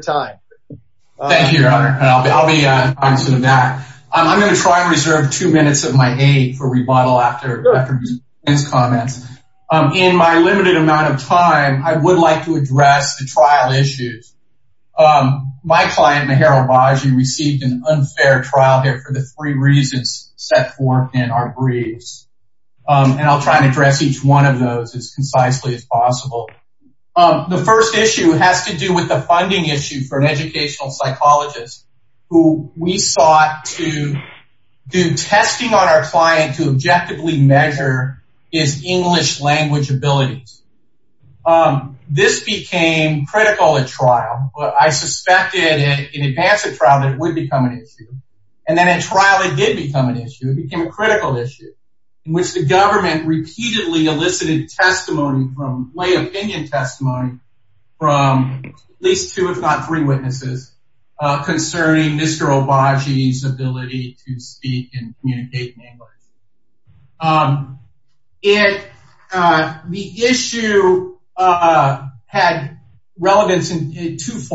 time. I'm going to try and reserve two minutes of my aid for rebuttal after his comments. In my limited amount of time I would like to address the trial issues. My client Maher Obagi received an unfair trial here for the three reasons set forth in our briefs and I'll try and address each one of those as concisely as possible. The first issue has to do with the funding issue for an educational psychologist who we sought to do testing on our client to objectively measure his English language abilities. This became critical at trial but I suspected in advance of trial that it would become an issue and then in trial it did become an issue. It became a critical issue in which the government repeatedly elicited testimony from lay opinion testimony from at least two if not three witnesses concerning Mr. Obagi's ability to speak and communicate in English. The issue had to do with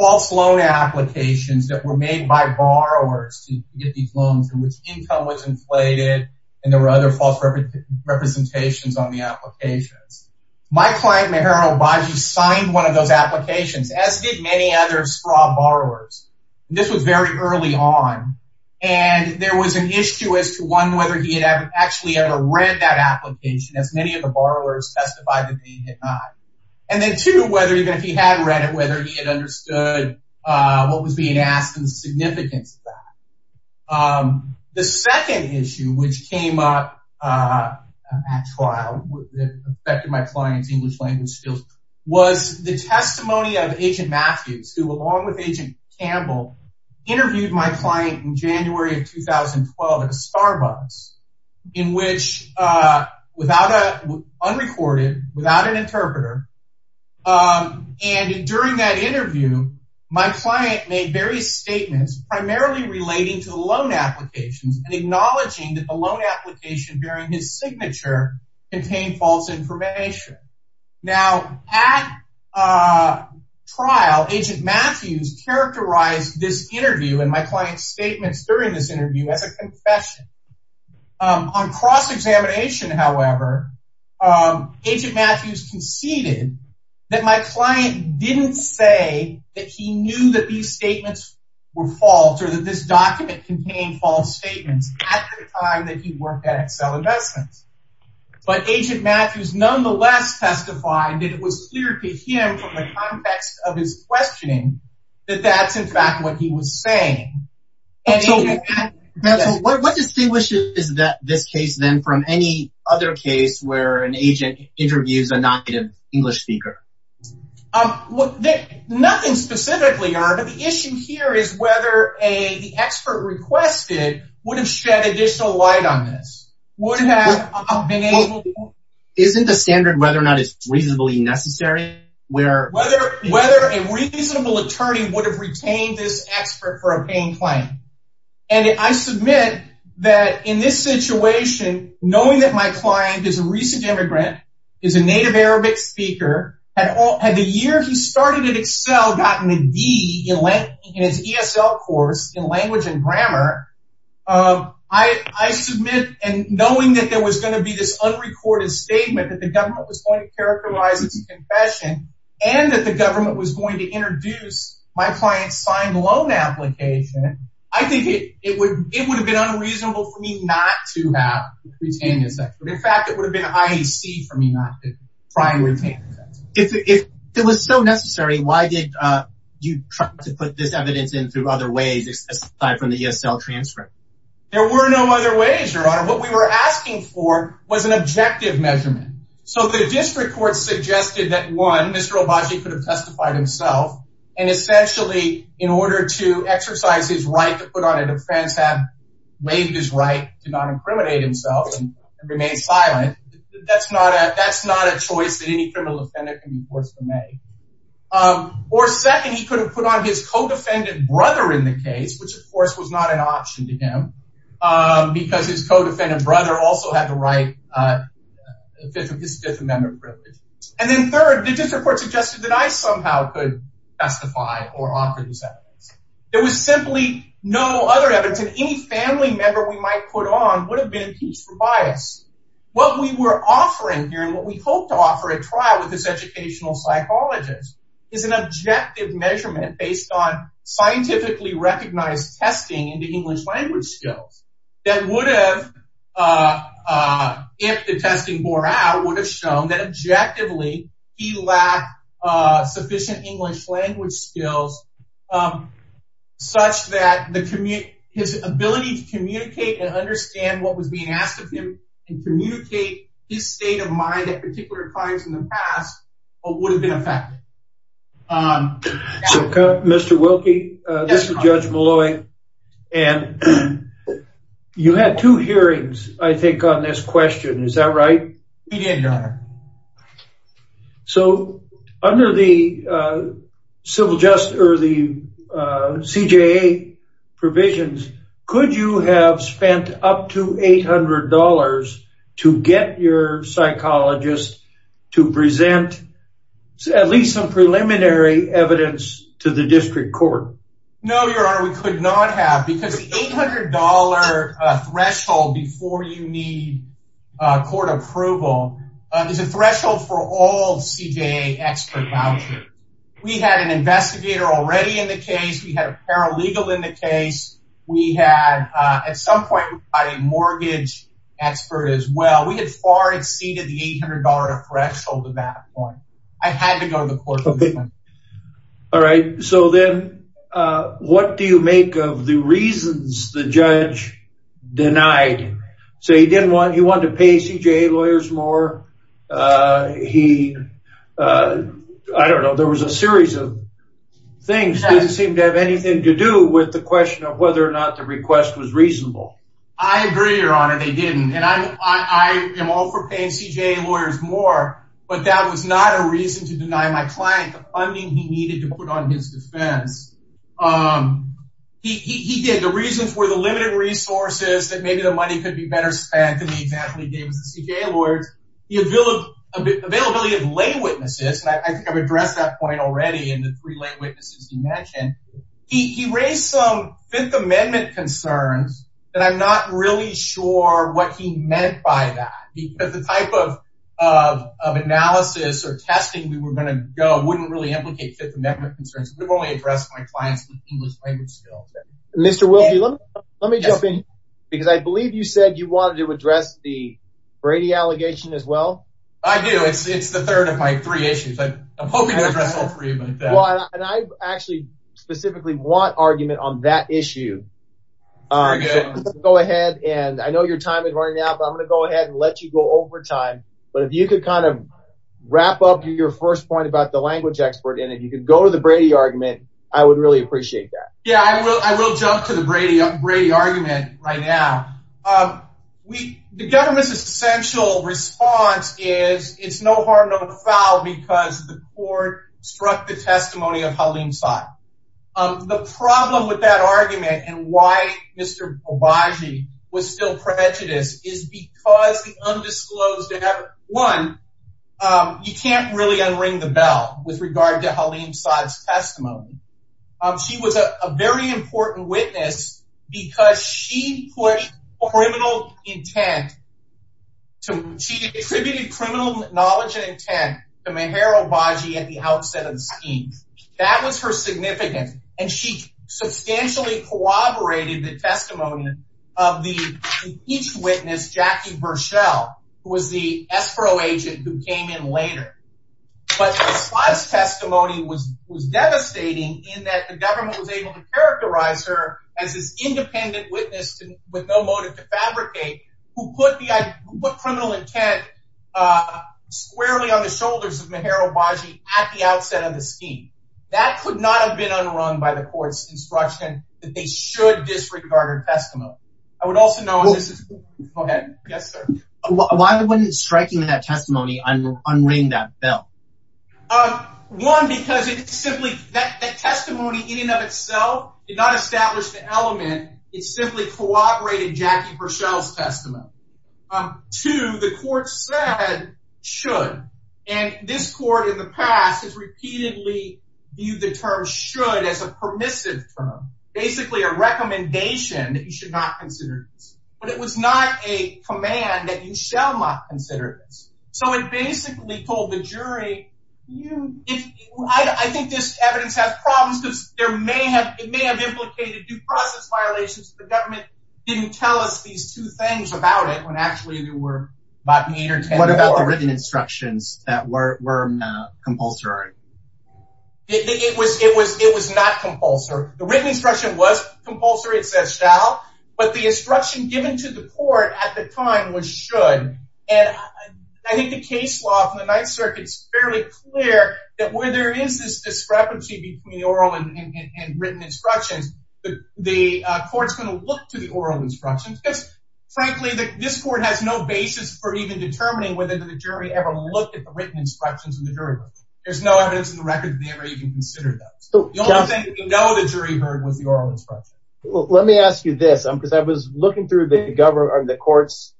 false loan applications that were made by borrowers to get these loans in which income was inflated and there were other false representations on the applications. My client Maher Obagi signed one of those applications as did many other straw borrowers. This was very early on and there was an issue as to one whether he had actually ever read that application as many of the borrowers testified that he had not and then two whether even if he had read it whether he had understood what was being asked and the significance of that. The second issue which came up at trial that affected my client's English language skills was the testimony of Agent Matthews who along with Agent Campbell interviewed my client in January of 2012 at a Starbucks in which without a unrecorded without an interpreter and during that interview my client made various statements primarily relating to loan applications and acknowledging that the loan application bearing his signature contained false information. Now at trial Agent Matthews characterized this interview and my client's statements during this interview as a confession. On cross-examination however, Agent Matthews conceded that my client didn't say that he knew that these statements were false or that this document contained false statements at the time that he worked at Excel Investments. But Agent Matthews nonetheless testified that it was clear to him from the context of his questioning that that's in fact what he was saying. So what distinguishes this case then from any other case where an agent interviews a non-native English speaker? Nothing specifically, but the issue here is whether the expert requested would have shed additional light on this. Isn't the standard whether or not it's reasonably necessary? Whether a reasonable attorney would have retained this expert for a paying client. And I submit that in this situation knowing that my client is a recent immigrant, is a native Arabic speaker, and had the year he started at Excel gotten a D in his ESL course in language and grammar, I submit and knowing that there was going to be this and that the government was going to introduce my client's signed loan application, I think it would have been unreasonable for me not to have retained this expert. In fact, it would have been IEC for me not to try and retain this expert. If it was so necessary, why did you try to put this evidence in through other ways aside from the ESL transcript? There were no other ways, Your Honor. What we were asking for was an objective measurement. So the district court suggested that one, Mr. Obagi could have testified himself. And essentially, in order to exercise his right to put on a defense, have waived his right to not incriminate himself and remain silent. That's not a choice that any criminal offender can be forced to make. Or second, he could have put on his co-defendant brother in the case, which of course was not an option to him. Because his co-defendant brother also had the right, his Fifth Amendment privilege. And then third, the district court suggested that I somehow could testify or offer this evidence. There was simply no other evidence that any family member we might put on would have been accused for bias. What we were offering here and what we hope to offer at trial with this educational psychologist is an objective measurement based on scientifically recognized testing into English language skills that would have, if the testing bore out, would have shown that objectively, he lacked sufficient English language skills, such that his ability to communicate and understand what was being asked of him and communicate his state of particular clients in the past, would have been affected. Mr. Wilkie, this is Judge Molloy. And you had two hearings, I think on this question. Is that right? He did, Your Honor. So under the civil justice or the CJA provisions, could you have spent up to $800 to get your psychologist to present at least some preliminary evidence to the district court? No, Your Honor, we could not have because the $800 threshold before you need court approval is a threshold for all CJA expert vouchers. We had an investigator already in the case. We had a paralegal in the case. We had, at some point, a mortgage expert as well. We had far exceeded the $800 threshold at that point. I had to go to the court. Okay. All right. So then, what do you make of the reasons the judge denied? So he didn't want, he wanted to pay CJA lawyers more. He, I don't know, there was a series of things that didn't seem to have anything to do with the question of whether or not the request was reasonable. I agree, Your Honor, they didn't. And I am all for paying CJA lawyers more. But that was not a reason to deny my client the funding he needed to put on his defense. He did. The reasons were the limited resources that maybe the money could be better spent than he exactly gave us the CJA lawyers. The availability of lay witnesses, and I think I've addressed that point already in the three lay I'm not really sure what he meant by that. Because the type of analysis or testing we were going to go wouldn't really implicate Fifth Amendment concerns. We've only addressed my client's English language skills. Mr. Wilkie, let me jump in. Because I believe you said you wanted to address the Brady allegation as well. I do. It's the third of my three issues. I'm hoping to address all three of them. And I actually specifically want argument on that issue. Go ahead. And I know your time is running out, but I'm going to go ahead and let you go over time. But if you could kind of wrap up your first point about the language expert, and if you could go to the Brady argument, I would really appreciate that. Yeah, I will. I will jump to the Brady argument right now. The government's essential response is it's no harm, no foul, because the testimony of Haleem Saad. The problem with that argument and why Mr. Obagi was still prejudiced is because the undisclosed evidence. One, you can't really unring the bell with regard to Haleem Saad's testimony. She was a very important witness because she pushed criminal intent. She attributed criminal knowledge and intent to Meher Obagi at the outset of the scheme. That was her significance. And she substantially corroborated the testimony of the impeached witness, Jackie Burchell, who was the escrow agent who came in later. But Saad's fabricate, who put the criminal intent squarely on the shoulders of Meher Obagi at the outset of the scheme. That could not have been unrung by the court's instruction that they should disregard her testimony. I would also know this is... Go ahead. Yes, sir. Why wouldn't striking that testimony unring that bell? One, because it simply... That testimony in and of itself did not establish the element. It simply corroborated Jackie Burchell's testimony. Two, the court said should. And this court in the past has repeatedly viewed the term should as a permissive term, basically a jury. I think this evidence has problems because it may have implicated due process violations. The government didn't tell us these two things about it when actually there were about eight or ten... What about the written instructions that were compulsory? It was not compulsory. The written instruction was compulsory. It says shall. But the instruction given to the court at the time was should. And I think the case law from the Ninth Circuit is fairly clear that where there is this discrepancy between the oral and written instructions, the court's going to look to the oral instructions. Because frankly, this court has no basis for even determining whether the jury ever looked at the written instructions in the jury room. There's no evidence in the record that they ever even considered those. The only thing we know the jury heard was the oral instructions. Let me ask you this, because I was looking through the court's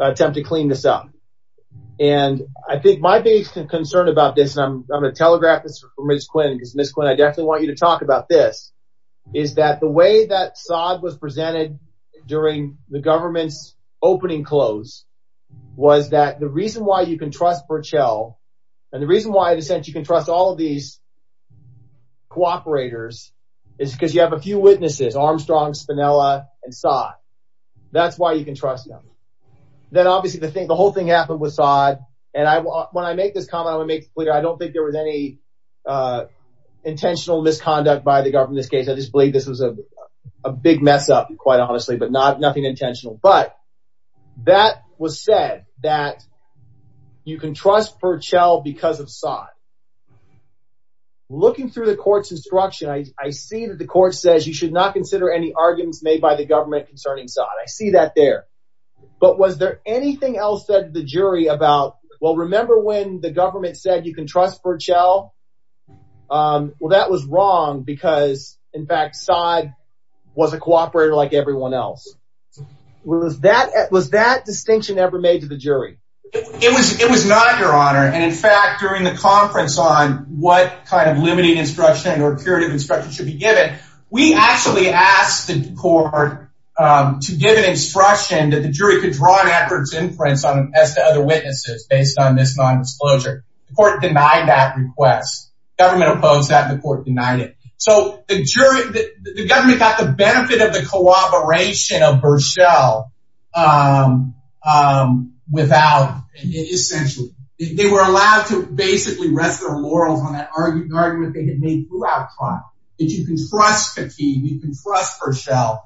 attempt to clean this up. And I think my biggest concern about this, and I'm going to telegraph this for Ms. Quinn, because Ms. Quinn, I definitely want you to talk about this, is that the way that Sodd was presented during the government's opening close was that the reason why you can trust Burchell, and the reason why, in a sense, you can trust all of these cooperators is because you have a few witnesses, Armstrong, Spinella, and Sodd. That's why you can trust them. Then obviously the whole thing happened with Sodd. And when I make this comment, I don't think there was any intentional misconduct by the government in this case. I just believe this was a big mess up, quite honestly, but nothing intentional. But that was said that you can trust Burchell because of Sodd. Looking through the court's instruction, I see that the court says you should not consider any arguments made by the government concerning Sodd. I see that there. But was there anything else that the jury about, well, remember when the government said you can trust Burchell? Well, that was wrong because, in fact, Sodd was a cooperator like everyone else. Was that distinction ever made to the jury? It was not, Your Honor. And in fact, during the conference on what kind of limiting instruction or curative instruction should be given, we actually asked the court to give an instruction that the jury could draw an adverse inference as to other witnesses based on this non-disclosure. The court denied that request. The government opposed that and the court denied it. So the jury, the government got the benefit of the cooperation of Burchell without, essentially, they were allowed to basically rest their laurels on that argument they had made throughout trial. That you can trust Khatib, you can trust Burchell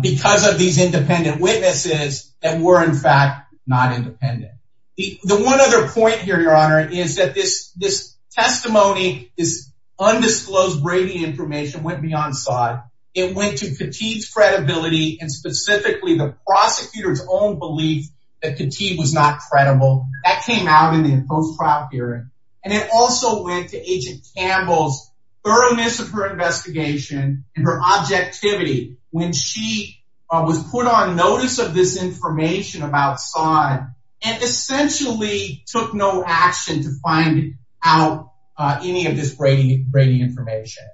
because of these independent witnesses that were, in fact, not independent. The one other point here, Your Honor, is that this testimony, this undisclosed Brady information went beyond Sodd. It went to Khatib's credibility and specifically the prosecutor's own belief that Khatib was not credible. That came out in the post-trial hearing. And it also went to Agent Campbell's thoroughness of her investigation and her objectivity when she was put on notice of this information about Sodd and essentially took no action to find out any of this Brady information.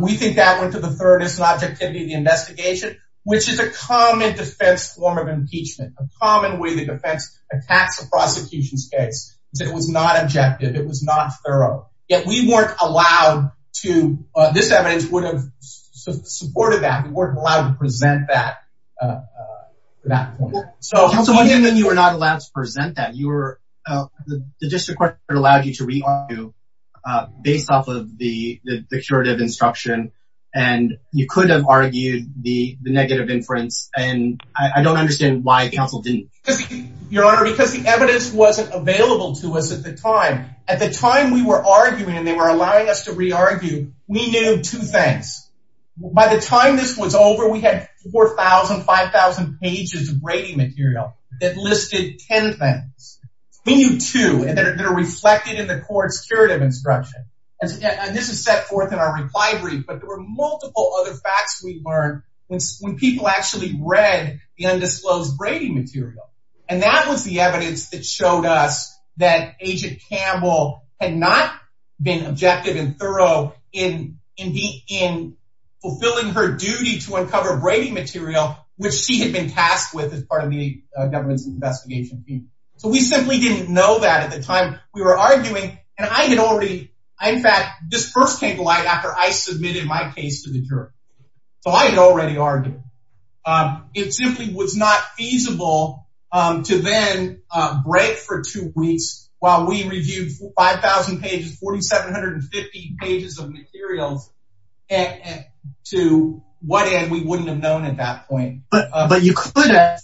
We think that went to the thoroughness and objectivity of the investigation, which is a common defense form of impeachment, a common way the defense attacks a prosecution's case. It was not objective. It was not thorough. Yet, we weren't allowed to, this evidence would have supported that. We weren't allowed to present that. So you were not allowed to present that. The district court allowed you to re-argue based off of the curative instruction. And you could have argued the negative inference. And I don't understand why counsel didn't. Your Honor, because the evidence wasn't available to us at the time. At the time we were arguing and they were allowing us to re-argue, we knew two pages of Brady material that listed 10 things. We knew two that are reflected in the court's curative instruction. And this is set forth in our reply brief. But there were multiple other facts we learned when people actually read the undisclosed Brady material. And that was the evidence that showed us that Agent Brady had been tasked with as part of the government's investigation team. So we simply didn't know that at the time we were arguing. And I had already, in fact, this first came to light after I submitted my case to the jury. So I had already argued. It simply was not feasible to then break for two weeks while we reviewed 5,000 pages, 4,750 pages of materials to what end we wouldn't have known at that point. But you could have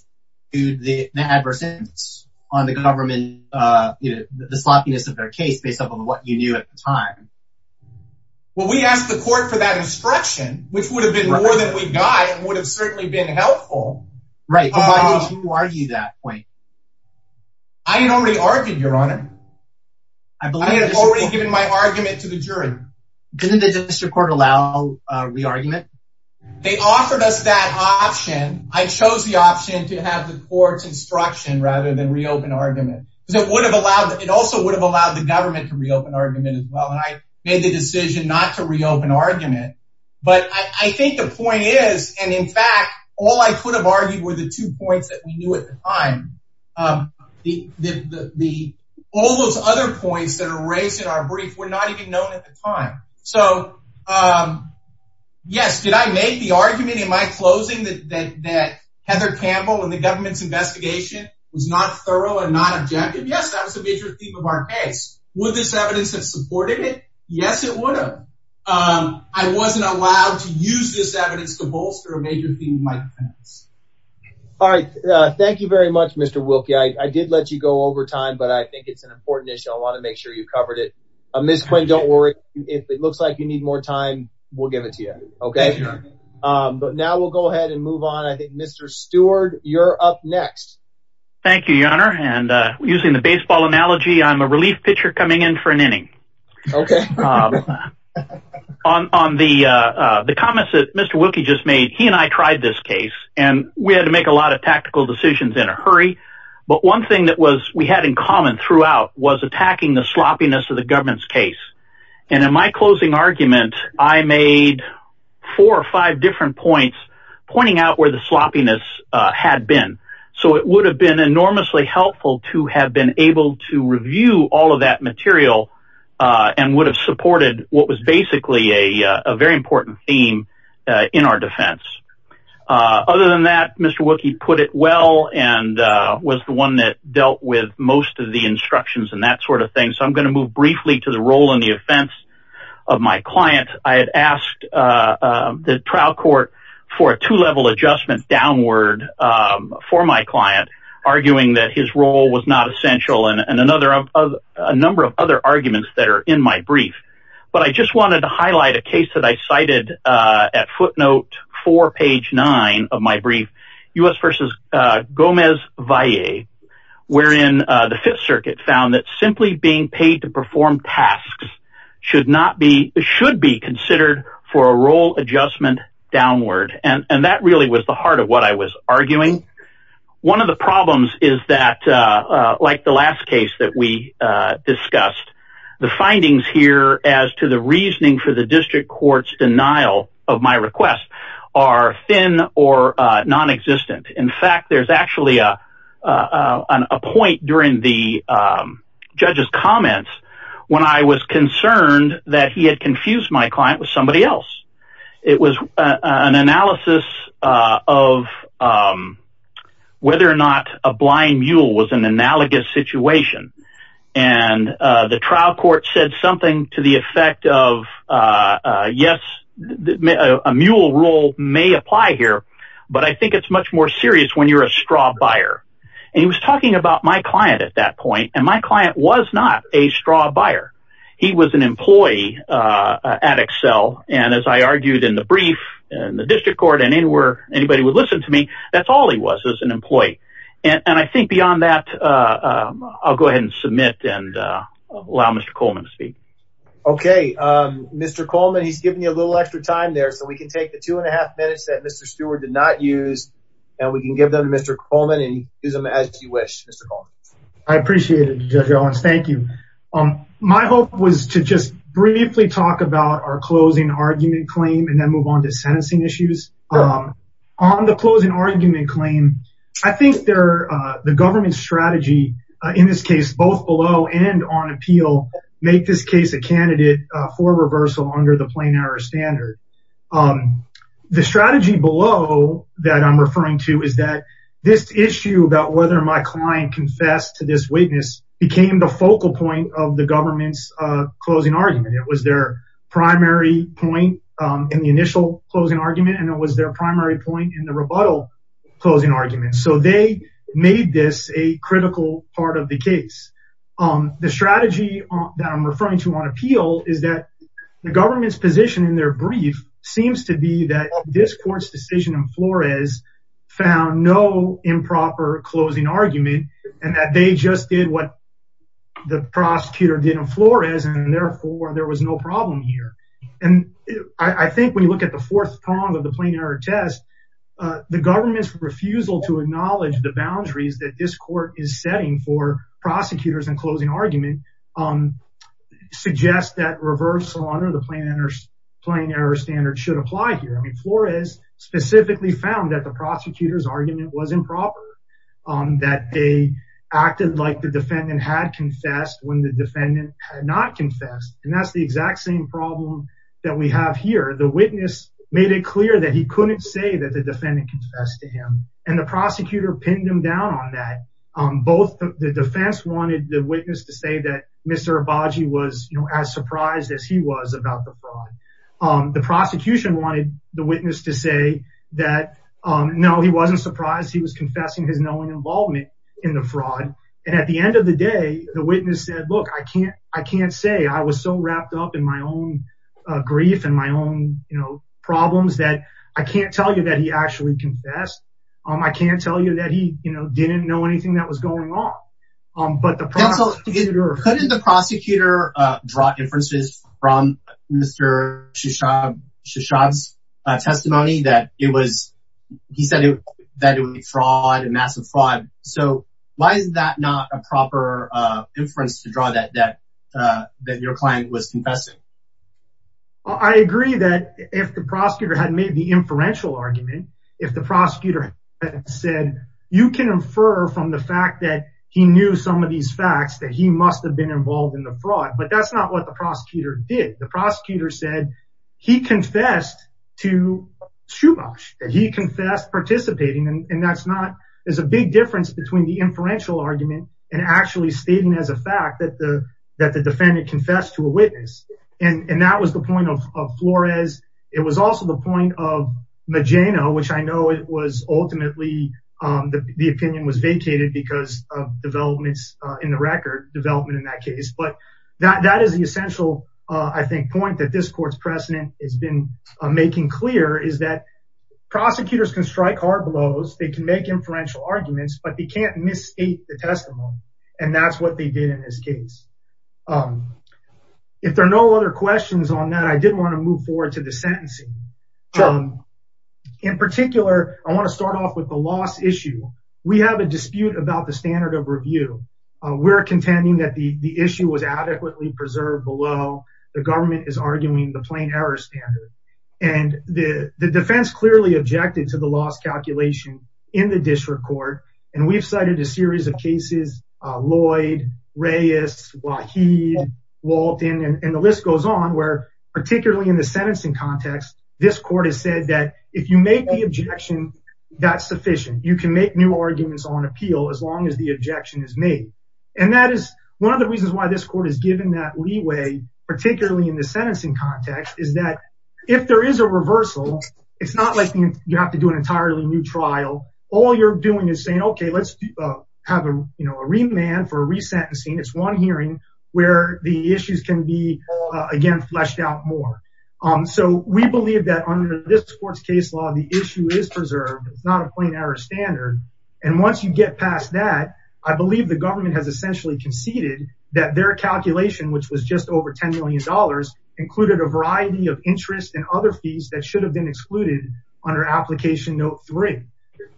argued the adverse effects on the government, the sloppiness of their case based on what you knew at the time. Well, we asked the court for that instruction, which would have been more than we got. It would have certainly been helpful. Right. But why did you argue that point? I had already argued, Your Honor. I had already given my argument to the jury. Didn't the district court allow a re-argument? They offered us that option. I chose the option to have the court's instruction rather than re-open argument because it would have allowed, it also would have allowed the government to re-open argument as well. And I made the decision not to re-open argument. But I think the point is, and in fact, all I could have argued were the two points that we knew at the time. All those other points that are raised in our brief were not even known at the time. So, yes, did I make the argument in my closing that Heather Campbell and the government's investigation was not thorough and not objective? Yes, that was a major theme of our case. Would this evidence have supported it? Yes, it would have. I wasn't allowed to use this evidence to bolster a major theme of my defense. All right. Thank you very much, Mr. Wilkie. I did let you go over time, but I think it's an important issue. I want to make sure you covered it. Ms. Quinn, don't worry. If it looks like you need more time, we'll give it to you. OK. But now we'll go ahead and move on. I think Mr. Stewart, you're up next. Thank you, Your Honor. And using the baseball analogy, I'm a relief pitcher coming in for an inning. OK. On the comments that Mr. Wilkie just made, he and I tried this case and we had to make a lot of tactical decisions in a hurry. But one thing that was we had in common throughout was attacking the sloppiness of the government's case. And in my closing argument, I made four or five different points pointing out where the sloppiness had been. So it would have been enormously helpful to have been able to review all of that material and would have supported what was basically a very important theme in our defense. Other than that, Mr. Wilkie put it well and was the one that dealt with most of the instructions and that sort of thing. So I'm going to move briefly to the role in the offense of my client. I had asked the trial court for a two level adjustment downward for my client, arguing that his role was not essential. And another of a number of other arguments that are in my brief. But I just wanted to highlight a case that I cited at footnote for page nine of my brief, U.S. versus Gomez Valle, wherein the Fifth Circuit found that simply being paid to perform tasks should not be should be considered for a role adjustment downward. And that really was the heart of what I was arguing. One of the problems is that, like the last case that we discussed, the findings here as to the reasoning for the district court's denial of my request are thin or non-existent. In fact, there's actually a point during the judge's comments when I was concerned that he had confused my client with somebody else. It was an analysis of whether or not a blind mule was an analogous situation. And the trial court said something to the effect of, yes, a mule role may apply here, but I think it's much more serious when you're a straw buyer. And he was talking about my client at that point. And my client was not a straw buyer. He was an employee at Excel. And as I argued in the brief and the district court and anywhere anybody would listen to me, that's all he was as an employee. And I think beyond that, I'll go ahead and submit and allow Mr. Coleman to speak. Okay, Mr. Coleman, he's giving you a little extra time there so we can take the two and a half minutes that Mr. Stewart did not use and we can give them to Mr. Coleman and use them as you wish. I appreciate it, Judge Owens. Thank you. My hope was to just briefly talk about our closing argument claim and then move on to sentencing issues. On the closing argument claim, I think the government's strategy in this case, both below and on appeal, make this case a candidate for reversal under the plain error standard. The strategy below that I'm referring to is that this issue about whether my client confessed to this witness became the focal point of the government's closing argument. It was their primary point in the initial closing argument and it was their primary point in the rebuttal closing argument. So they made this a critical part of the case. The strategy that I'm referring to on appeal is that the government's position in their brief seems to be that this court's decision in Flores found no improper closing argument and that they just did what the prosecutor did in Flores. And therefore, there was no problem here. And I think when you look at the fourth prong of the plain error test, the government's refusal to acknowledge the boundaries that this court is setting for prosecutors and closing argument suggests that reversal under the plain error standard should apply here. Flores specifically found that the prosecutor's argument was improper, that they acted like the defendant had confessed when the defendant had not confessed. And that's the exact same problem that we have here. The witness made it clear that he couldn't say that the defendant confessed to him and the prosecutor pinned him down on that. Both the defense wanted the witness to say that Mr. Abadji was as surprised as he was about the fraud. The prosecution wanted the witness to say that, no, he wasn't surprised. He was confessing his knowing involvement in the fraud. And at the end of the day, the witness said, look, I can't say. I was so wrapped up in my own grief and my own problems that I can't tell you that he actually confessed. I can't tell you that he didn't know anything that was going on. But the prosecutor. Couldn't the prosecutor draw inferences from Mr. Shishab's testimony that it was, he said that it was fraud, a massive fraud. So why is that not a proper inference to draw that that that your client was confessing? I agree that if the prosecutor had made the inferential argument, if the prosecutor said you can infer from the fact that he knew some of these facts that he must have been involved in the fraud. But that's not what the prosecutor did. The prosecutor said he confessed to Shubash, that he confessed participating. And that's not, there's a big difference between the inferential argument and actually stating as a fact that the that the defendant confessed to a witness. And that was the point of Flores. It was also the point of Mageno, which I know it was ultimately the opinion was vacated because of developments in the record development in that case. But that is the essential, I think, point that this court's precedent has been making clear is that prosecutors can strike hard blows. They can make inferential arguments, but they can't misstate the testimony. And that's what they did in this case. If there are no other questions on that, I did want to move forward to the sentencing. In particular, I want to start off with the loss issue. We have a dispute about the standard of review. We're contending that the issue was adequately preserved below the government is arguing the plain error standard. And the defense clearly objected to the loss calculation in the district court. And we've cited a series of cases, Lloyd, Reyes, Waheed, Walton, and the list goes on, where particularly in the sentencing context, this court has said that if you make the objection, that's sufficient. You can make new arguments on appeal as long as the objection is made. And that is one of the reasons why this court has given that leeway, particularly in the sentencing context, is that if there is a reversal, it's not like you have to do an entirely new trial. All you're doing is saying, okay, let's have a remand for a resentencing. It's one hearing where the issues can be again, fleshed out more. So we believe that under this court's case law, the issue is preserved. It's not a plain error standard. And once you get past that, I believe the government has essentially conceded that their calculation, which was just over $10 million, included a variety of interest and other fees that should have been excluded under application note three.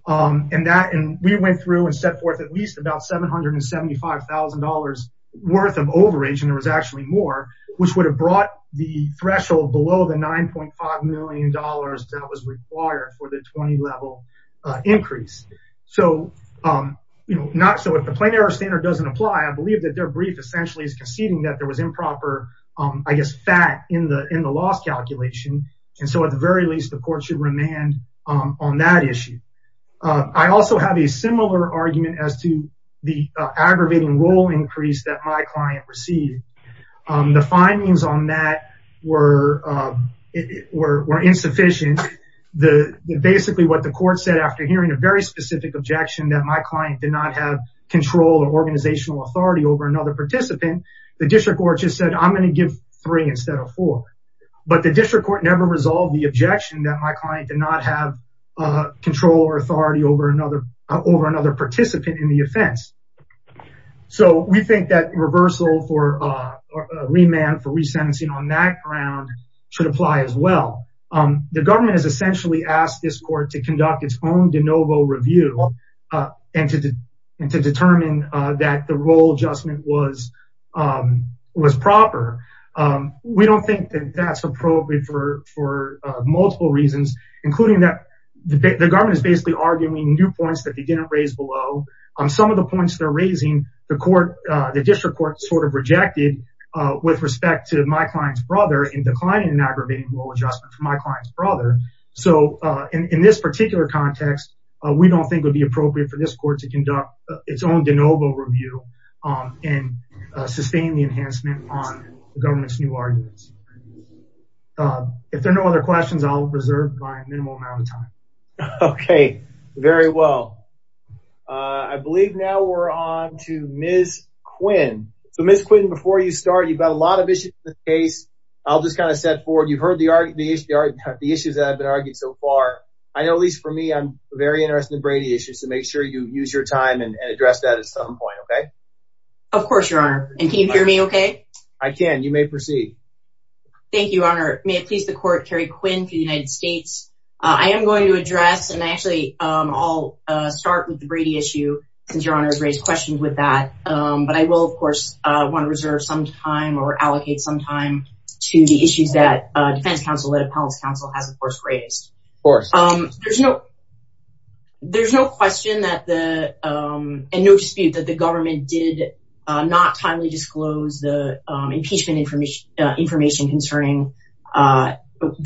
And that, and we went through and set forth at least about $775,000 worth of overage, and there was actually more, which would have brought the threshold below the $9.5 million that was required for the 20 level increase. So, you know, not, so if the plain error standard doesn't apply, I believe that their brief essentially is conceding that there was improper, I guess, fat in the loss calculation. And so at the very least, the court should remand on that issue. I also have a similar argument as to the aggravating role increase that my client received. The findings on that were insufficient. The, basically what the court said after hearing a very specific objection that my client did not have control or organizational authority over another participant, the district court just said, I'm going to give three instead of four. But the district court never resolved the objection that my client did not have control or authority over another participant in the offense. So we think that reversal for remand for resentencing on that ground should apply as well. The government has essentially asked this court to conduct its own de novo review and to determine that the role adjustment was proper. We don't think that that's appropriate for multiple reasons, including that the government is basically arguing new points that they didn't raise below. Some of the points they're raising, the court, the district court sort of rejected with respect to my client's brother in declining an aggravating role adjustment for my client's brother. So in this particular context, we don't think it would be appropriate for this court to conduct its own de novo review and sustain the enhancement on the government's new arguments. If there are no other questions, I'll reserve my minimal amount of time. Okay, very well. I believe now we're on to Ms. Quinn. So Ms. Quinn, before you start, you've got a lot of issues in this case. I'll just kind of set forward. You've heard the issues that have been argued so far. I know, at least for me, I'm very interested in Brady issues, so make sure you use your time and address that at some point, okay? Of course, Your Honor. And can you hear me okay? I can. You may proceed. Thank you, Your Honor. May it please the court, Kerry Quinn for the United States. I am going to address, and actually I'll start with the Brady issue, since Your Honor has raised questions with that. But I will, of course, want to reserve some time or allocate some time to the issues that Defense Counsel, that Appellant's Counsel has, of course, raised. Of course. There's no question and no dispute that the government did not timely disclose the impeachment information concerning the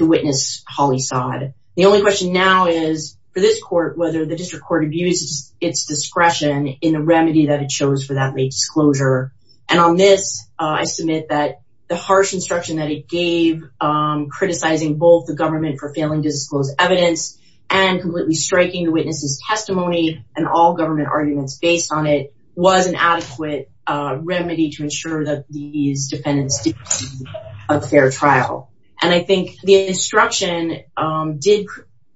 witness, Holly Sodd. The only question now is, for this court, whether the district court abused its discretion in the remedy that it chose for that late disclosure. And on this, I submit that the harsh instruction that it gave, criticizing both the government for failing to disclose evidence and completely striking the witness's testimony and all government arguments based on it, was an adequate remedy to ensure that these defendants did a fair trial. And I think the instruction did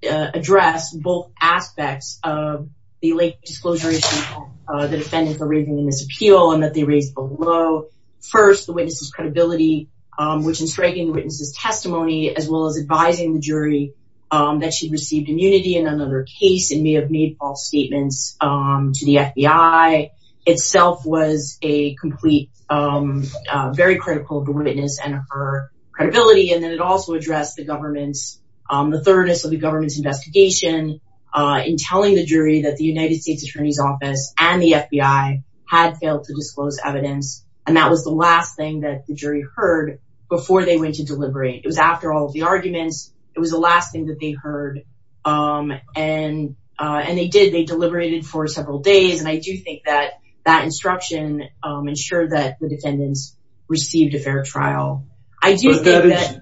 address both aspects of the late disclosure issue that the defendants are raising in this appeal and that they raised below. First, the witness's credibility, which in striking the witness's testimony, as well as advising the jury that she received immunity in another case and may have made false statements to the FBI, itself was a complete, very critical of the witness and her credibility. And then it also addressed the government's, the thoroughness of the government's investigation in telling the jury that the United States Attorney's Office and the FBI had failed to disclose evidence. And that was the last thing that the jury heard before they went to deliberate. It was after all of the arguments. It was the last thing that they heard. And they did. They deliberated for several days. And I do think that that instruction ensured that the defendants received a fair trial. I do think that.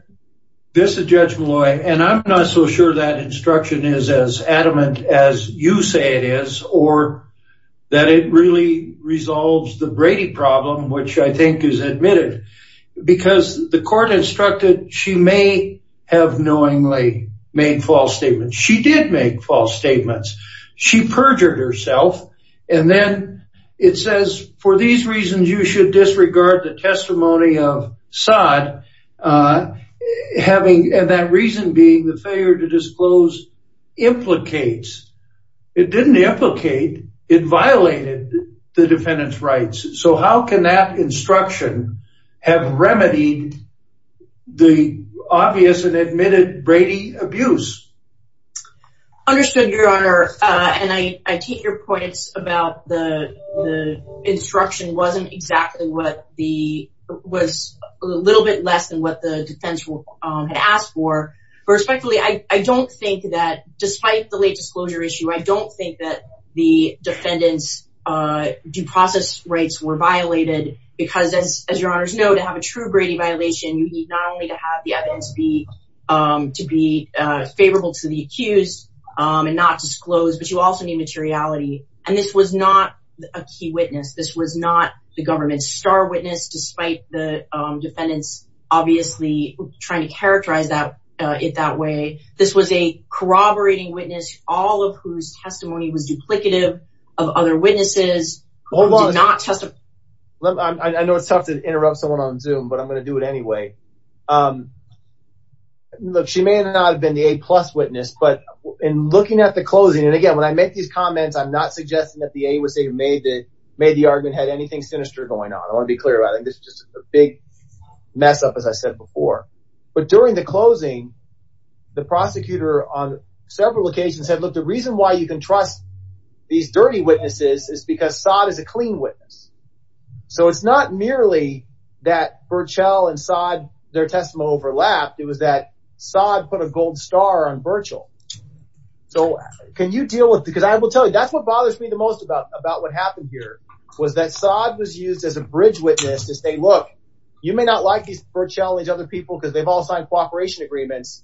This is Judge Malloy, and I'm not so sure that instruction is as adamant as you say it is or that it really resolves the Brady problem, which I think is admitted because the court instructed she may have knowingly made false statements. She did make false statements. She perjured herself. And then it says, for these reasons, you should disregard the testimony of Saad, having that reason being the failure to disclose implicates. It didn't implicate, it violated the defendant's rights. So how can that instruction have remedied the obvious and admitted Brady abuse? Understood, Your Honor. And I take your points about the instruction wasn't exactly what the was a little bit less than what the defense had asked for. Respectfully, I don't think that despite the late disclosure issue, I don't think that the defendants due process rates were violated because, as Your Honor's know, to have a true Brady violation, you need not only to have the evidence to be to be favorable. So the accused and not disclose, but you also need materiality. And this was not a key witness. This was not the government star witness, despite the defendants obviously trying to characterize that it that way. This was a corroborating witness, all of whose testimony was duplicative of other witnesses. Hold on, I know it's tough to interrupt someone on Zoom, but I'm going to do it anyway. Um, look, she may not have been the A plus witness, but in looking at the closing and again, when I make these comments, I'm not suggesting that the A was made that made the argument had anything sinister going on. I want to be clear about it. This is just a big mess up, as I said before. But during the closing, the prosecutor on several occasions said, look, the reason why you can trust these dirty witnesses is because Saad is a clean witness. So it's not merely that Berchel and Saad, their testimony overlapped. It was that Saad put a gold star on Berchel. So can you deal with because I will tell you, that's what bothers me the most about about what happened here was that Saad was used as a bridge witness to say, look, you may not like these Berchel and other people because they've all signed cooperation agreements,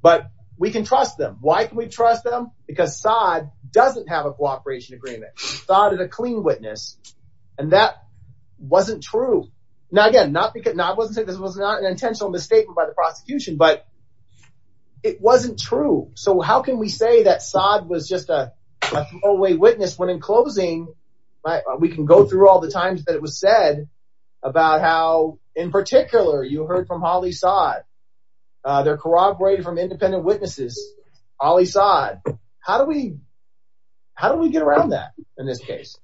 but we can trust them. Why can we trust them? Because Saad doesn't have a cooperation agreement. Saad is a clean witness. And that wasn't true. Now, again, not because I wasn't saying this was not an intentional misstatement by the prosecution, but it wasn't true. So how can we say that Saad was just a throwaway witness when in closing, we can go through all the times that it was said about how in particular you heard from Ali Saad. They're corroborated from independent witnesses, Ali Saad. How do we how do we get around that? In this case,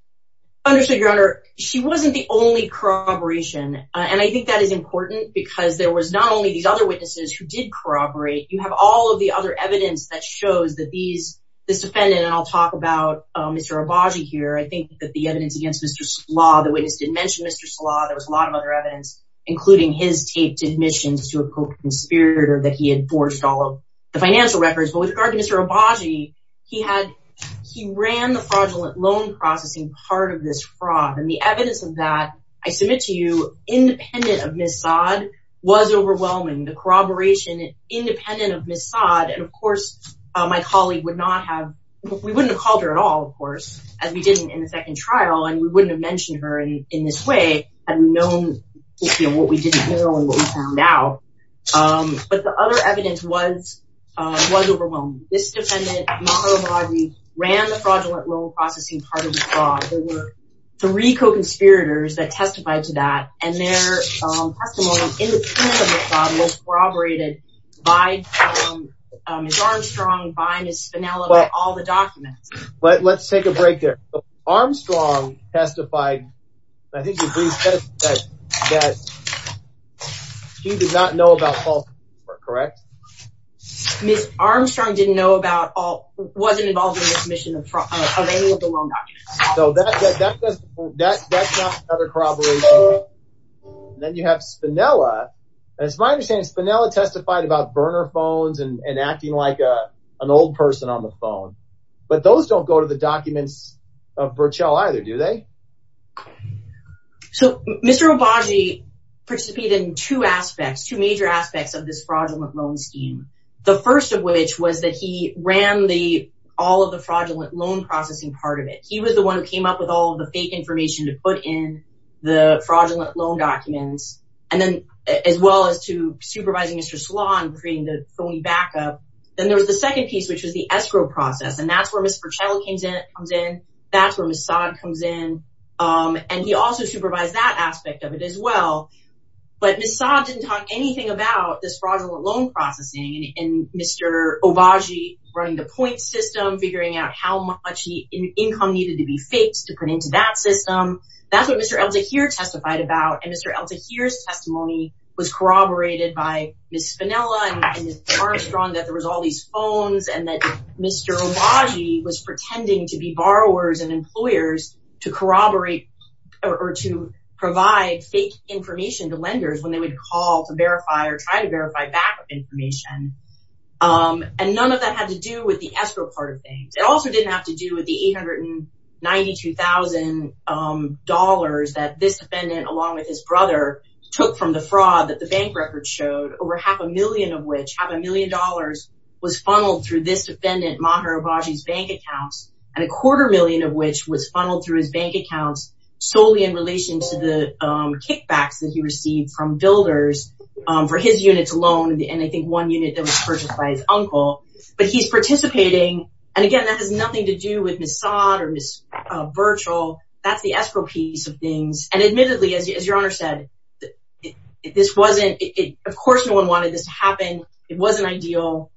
I understood your honor. She wasn't the only corroboration. And I think that is important because there was not only these other witnesses who did corroborate. You have all of the other evidence that shows that these this defendant and I'll talk about Mr. Obagi here. I think that the evidence against Mr. Slaw, the witness did mention Mr. Slaw. There was a lot of other evidence, including his taped admissions to a co-conspirator that he had forged all of the financial records. But with regard to Mr. Obagi, he had he ran the fraudulent loan processing part of this fraud. And the evidence of that, I submit to you, independent of Ms. Saad was overwhelming. The corroboration independent of Ms. Saad. And, of course, my colleague would not have we wouldn't have called her at all, of course, as we didn't in the second trial. And we wouldn't have mentioned her in this way and known what we didn't know and what we found out. But the other evidence was, was overwhelming. This defendant, Maher Obagi, ran the fraudulent loan processing part of the fraud. There were three co-conspirators that testified to that and their testimony in the presence of Ms. Saad was corroborated by Ms. Armstrong, by Ms. Spinella, by all the documents. But let's take a break there. Armstrong testified, I think he said that he did not know about false report, correct? Ms. Armstrong didn't know about all, wasn't involved in the submission of any of the loan documents. So that's not another corroboration. Then you have Spinella. And it's my understanding Spinella testified about burner phones and acting like an old person on the phone. But those don't go to the documents of Burchell either, do they? So Mr. Obagi participated in two aspects, two major aspects of this fraudulent loan scheme. The first of which was that he ran the all of the fraudulent loan processing part of it. He was the one who came up with all of the fake information to put in the fraudulent loan documents. And then as well as to supervising Mr. Then there was the second piece, which was the escrow process. And that's where Mr. Burchell comes in. That's where Ms. Saad comes in. And he also supervised that aspect of it as well. But Ms. Saad didn't talk anything about this fraudulent loan processing and Mr. Obagi running the point system, figuring out how much income needed to be fixed to put into that system. That's what Mr. El Tahir testified about. And Mr. El Tahir's testimony was corroborated by Ms. Spinella and Mr. Armstrong, that there was all these phones and that Mr. Obagi was pretending to be borrowers and employers to corroborate or to provide fake information to lenders when they would call to verify or try to verify back information. And none of that had to do with the escrow part of things. It also didn't have to do with the $892,000 that this defendant, along with his brother, took from the fraud that the bank records showed, over half a million of which, half a million dollars, was funneled through this defendant, Maher Obagi's bank accounts, and a quarter million of which was funneled through his bank accounts solely in relation to the kickbacks that he received from builders for his units alone. And I think one unit that was purchased by his uncle. But he's participating. And again, that has nothing to do with Ms. Saad or Ms. Virchel. That's the escrow piece of things. And admittedly, as your Honor said, this wasn't, of course, no one wanted this to happen. It wasn't ideal.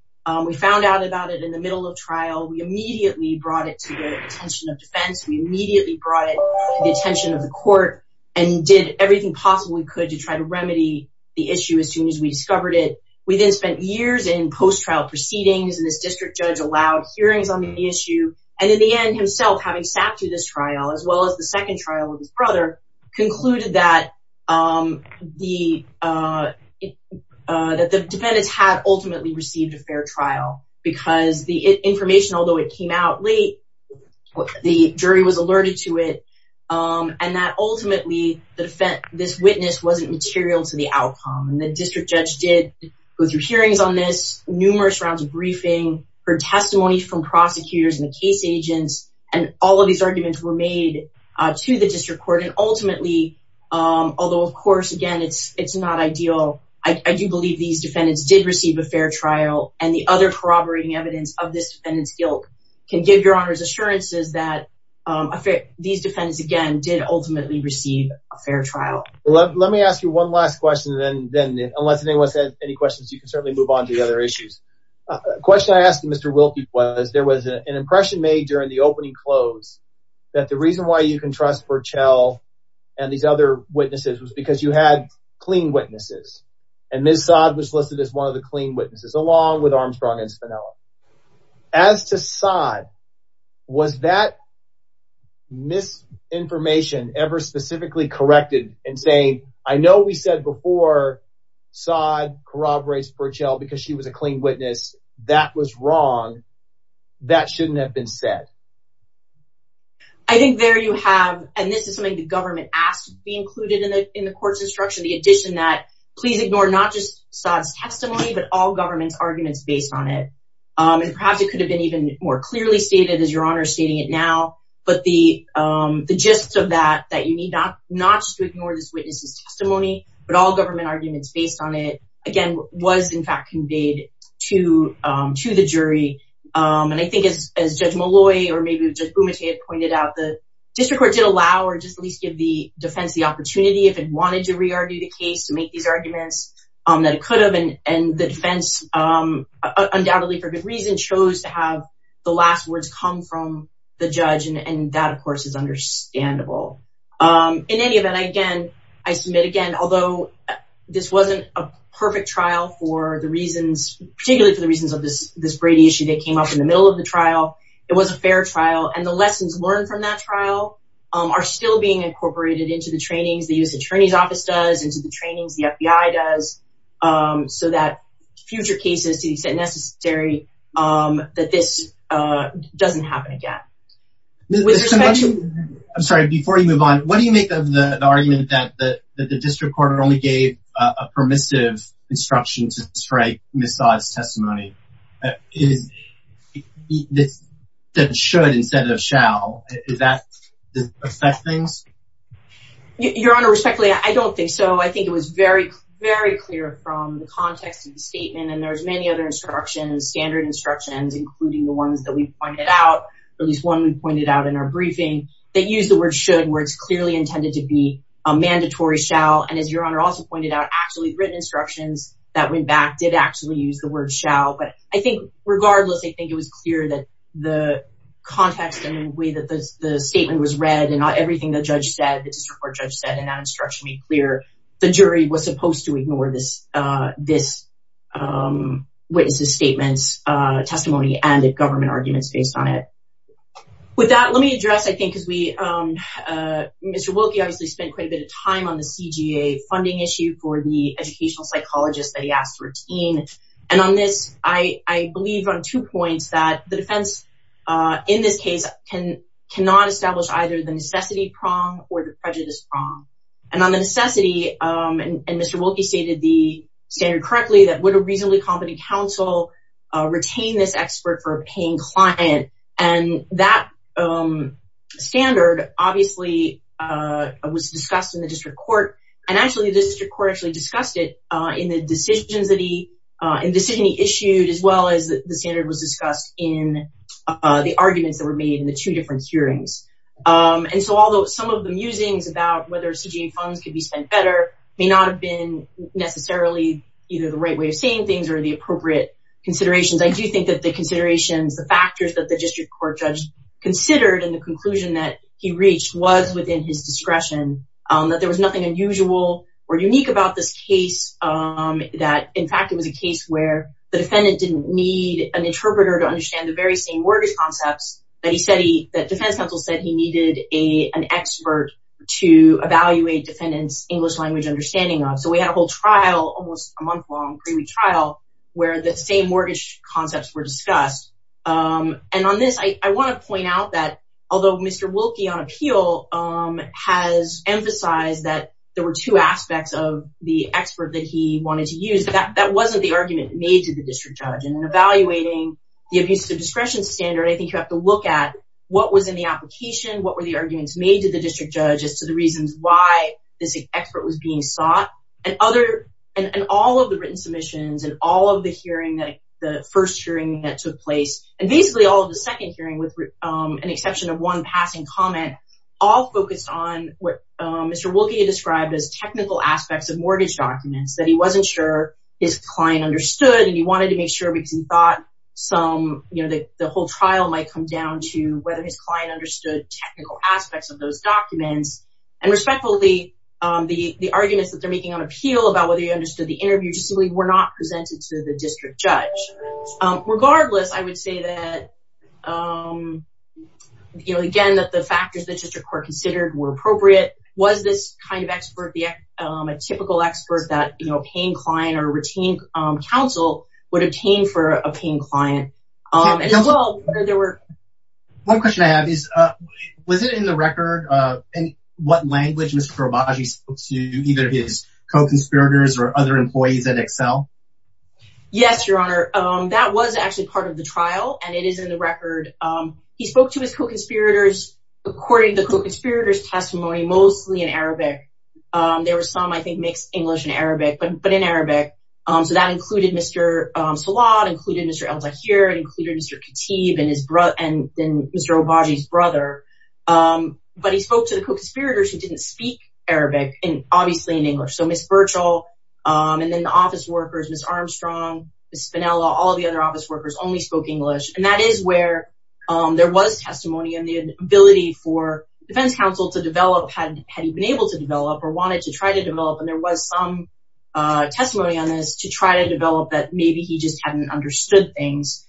We found out about it in the middle of trial. We immediately brought it to the attention of defense. We immediately brought it to the attention of the court and did everything possible we could to try to remedy the issue as soon as we discovered it. We then spent years in post-trial proceedings, and this district judge allowed hearings on the issue. And in the end, himself, having sat through this trial, as well as the second trial with his brother, concluded that the defendants had ultimately received a fair trial because the information, although it came out late, the jury was alerted to it, and that ultimately, this witness wasn't material to the outcome. And the district judge did go through hearings on this, numerous rounds of briefing, heard testimony from prosecutors and the case agents, and all of these arguments were made to the district court. And ultimately, although, of course, again, it's not ideal, I do believe these defendants did receive a fair trial. And the other corroborating evidence of this defendant's guilt can give your Honor's assurances that these defendants, again, did ultimately receive a fair trial. Let me ask you one last question, and then, unless anyone has any questions, you can certainly move on to the other issues. The question I asked Mr. Wilkie was, there was an impression made during the opening close that the reason why you can trust Burchell and these other witnesses was because you had clean witnesses, and Ms. Saad was listed as one of the clean witnesses, along with Armstrong and Spinella. As to Saad, was that misinformation ever specifically corrected in saying, I know we said before Saad corroborates Burchell because she was a clean witness, that was wrong, that shouldn't have been said? I think there you have, and this is something the government asked to be included in the court's instruction, the addition that, please ignore not just Saad's testimony, but all government's arguments based on it. And perhaps it could have been even more clearly stated, as your Honor is stating it now, but the gist of that, that you need not just to ignore this witness's testimony, but all government arguments based on it, again, was in fact conveyed to the jury. And I think as Judge Malloy or maybe Judge Bumate had pointed out, the district court did allow or just at least give the defense the opportunity if it wanted to re-argue the case to make these arguments that it could have, and the defense, undoubtedly for good reason, chose to have the last words come from the judge, and that of course is understandable. In any event, again, I submit again, although this wasn't a perfect trial for the reasons, particularly for the reasons of this Brady issue that came up in the middle of the trial, it was a fair trial, and the lessons learned from that trial are still being incorporated into the trainings the U.S. Attorney's Office does, into the trainings the FBI does, so that future cases, to the extent necessary, that this doesn't happen again. With respect to... I'm sorry, before you move on, what do you make of the argument that the district court only gave a permissive instruction to strike Ms. Todd's testimony? That should instead of shall, does that affect things? Your Honor, respectfully, I don't think so. I think it was very, very clear from the context of the statement, and there's many other instructions, standard instructions, including the ones that we pointed out, at least one we pointed out in our briefing, that used the word should, where it's clearly intended to be a mandatory shall, and as Your Honor also pointed out, actually written instructions that went back did actually use the word shall, but I think regardless, I think it was clear that the context and the way that the statement was read, and not everything the judge said, the district court judge said, and that instruction made clear, the jury was supposed to ignore this witness's statement's testimony and the government arguments based on it. With that, let me address, I think, because Mr. Wilkie obviously spent quite a bit of time on the CGA funding issue for the educational psychologist that he asked for a team, and on this, I believe on two points, that the defense in this case cannot establish either the necessity prong or the prejudice prong, and on the necessity, and Mr. Wilkie stated the standard correctly, that would a reasonably competent counsel retain this expert for a paying client, and that standard obviously was discussed in the district court, and actually the district court actually discussed it in the decisions that he, in the decision he issued, as well as the standard was discussed, in the arguments that were made in the two different hearings, and so although some of the musings about whether CGA funds could be spent better may not have been necessarily either the right way of saying things, or the appropriate considerations, I do think that the considerations, the factors that the district court judge considered, and the conclusion that he reached was within his discretion, that there was nothing unusual or unique about this case, that in fact, it was a case where the defendant didn't need an interpreter to understand the very same mortgage concepts that defense counsel said he needed an expert to evaluate defendant's English language understanding of, so we had a whole trial, almost a month long pre-trial, where the same mortgage concepts were discussed, and on this, I want to point out that although Mr. Wilkie on appeal has emphasized that there were two aspects of the expert that he needed, that he wanted to use, that wasn't the argument made to the district judge, and in evaluating the abuse of discretion standard, I think you have to look at what was in the application, what were the arguments made to the district judge as to the reasons why this expert was being sought, and other, and all of the written submissions, and all of the hearing, the first hearing that took place, and basically all of the second hearing, with an exception of one passing comment, all focused on what Mr. Wilkie described as technical aspects of mortgage documents, that he wasn't sure his client understood, and he wanted to make sure, because he thought some, you know, the whole trial might come down to whether his client understood technical aspects of those documents, and respectfully, the arguments that they're making on appeal about whether he understood the interview just simply were not presented to the district judge, regardless, I would say that, you know, again, that the factors the district court considered were appropriate, was this kind of expert a typical expert that, you know, a paying client or a routine counsel would obtain for a paying client, and as well, there were. One question I have is, was it in the record in what language Mr. Obagi spoke to either his co-conspirators or other employees at Excel? Yes, Your Honor, that was actually part of the trial, and it is in the record. He spoke to his co-conspirators, according to the co-conspirators testimony, mostly in Arabic. There were some, I think, mixed English and Arabic, but in Arabic, so that included Mr. Salat, included Mr. El-Zahir, and included Mr. Khatib, and his brother, and Mr. Obagi's brother. But he spoke to the co-conspirators who didn't speak Arabic, and obviously in English, so Ms. Birchall, and then the office workers, Ms. Armstrong, Ms. Spinella, all the other office workers only spoke English, and that is where there was testimony on the ability for defense counsel to develop, had he been able to develop, or wanted to try to develop, and there was some testimony on this to try to develop that maybe he just hadn't understood things,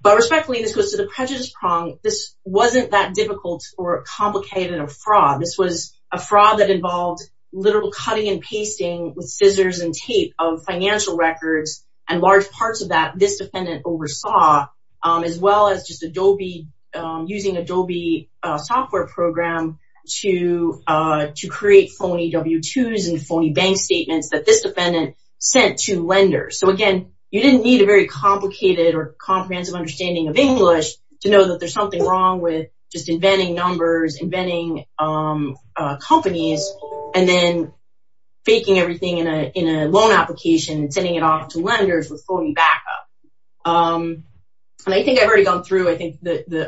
but respectfully, this goes to the prejudice prong. This wasn't that difficult or complicated a fraud. This was a fraud that involved literal cutting and pasting with scissors and tape of financial records, and large parts of that this defendant oversaw, as well as just Adobe, using Adobe software program to create phony W-2s and phony bank statements that this defendant sent to lenders. So again, you didn't need a very complicated or comprehensive understanding of English to know that there's something wrong with just inventing numbers, inventing companies, and then faking everything in a loan application and sending it off to lenders with phony backup. And I think I've already gone through, I think,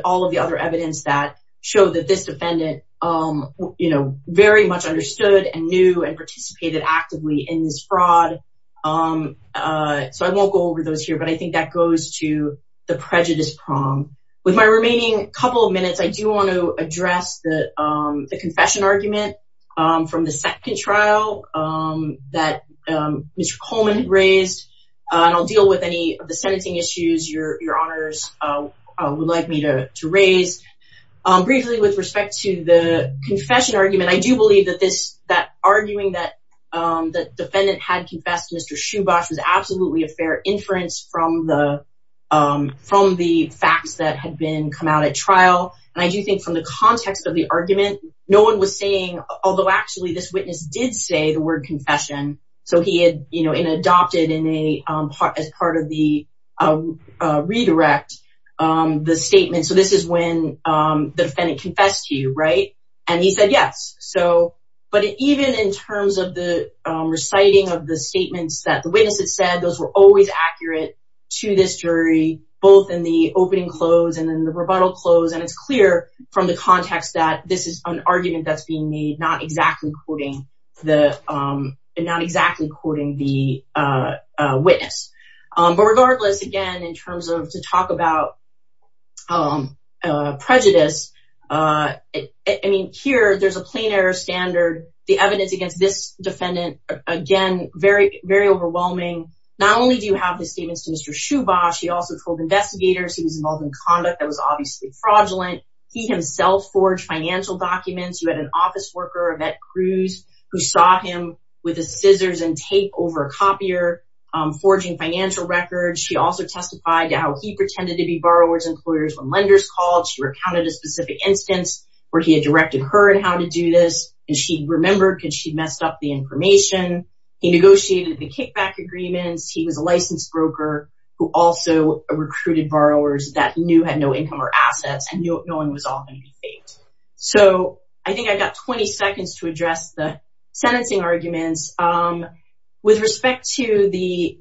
all of the other evidence that showed that this defendant very much understood and knew and participated actively in this fraud, so I won't go over those here, but I think that goes to the prejudice prong. With my remaining couple of minutes, I do want to address the confession argument from the second trial that Mr. Coleman raised, and I'll deal with any of the sentencing issues your honors would like me to raise. Briefly, with respect to the confession argument, I do believe that this, that arguing that the defendant had confessed to Mr. Shubash was absolutely a fair inference from the facts that had been come out at trial, and I do think from the context of the argument, no one was saying, although actually this witness did say the word confession, so he had adopted as part of the redirect, the statement. And so this is when the defendant confessed to you, right, and he said yes, so, but even in terms of the reciting of the statements that the witness had said, those were always accurate to this jury, both in the opening close and in the rebuttal close, and it's clear from the context that this is an argument that's being made, not exactly quoting the, not exactly quoting the witness. But regardless, again, in terms of, to talk about prejudice, I mean, here, there's a plain error standard, the evidence against this defendant, again, very, very overwhelming, not only do you have the statements to Mr. Shubash, he also told investigators he was involved in conduct that was obviously fraudulent, he himself forged financial documents, you had an office worker, Yvette Cruz, who saw him with his scissors and tape over a copier, forging financial records, she also testified to how he pretended to be borrower's employers when lenders called, she recounted a specific instance where he had directed her in how to do this, and she remembered because she'd messed up the information, he negotiated the kickback agreements, he was a licensed broker who also recruited borrowers that he knew had no income or assets and knew no one was all going to be faked. So I think I've got 20 seconds to address the sentencing arguments. With respect to the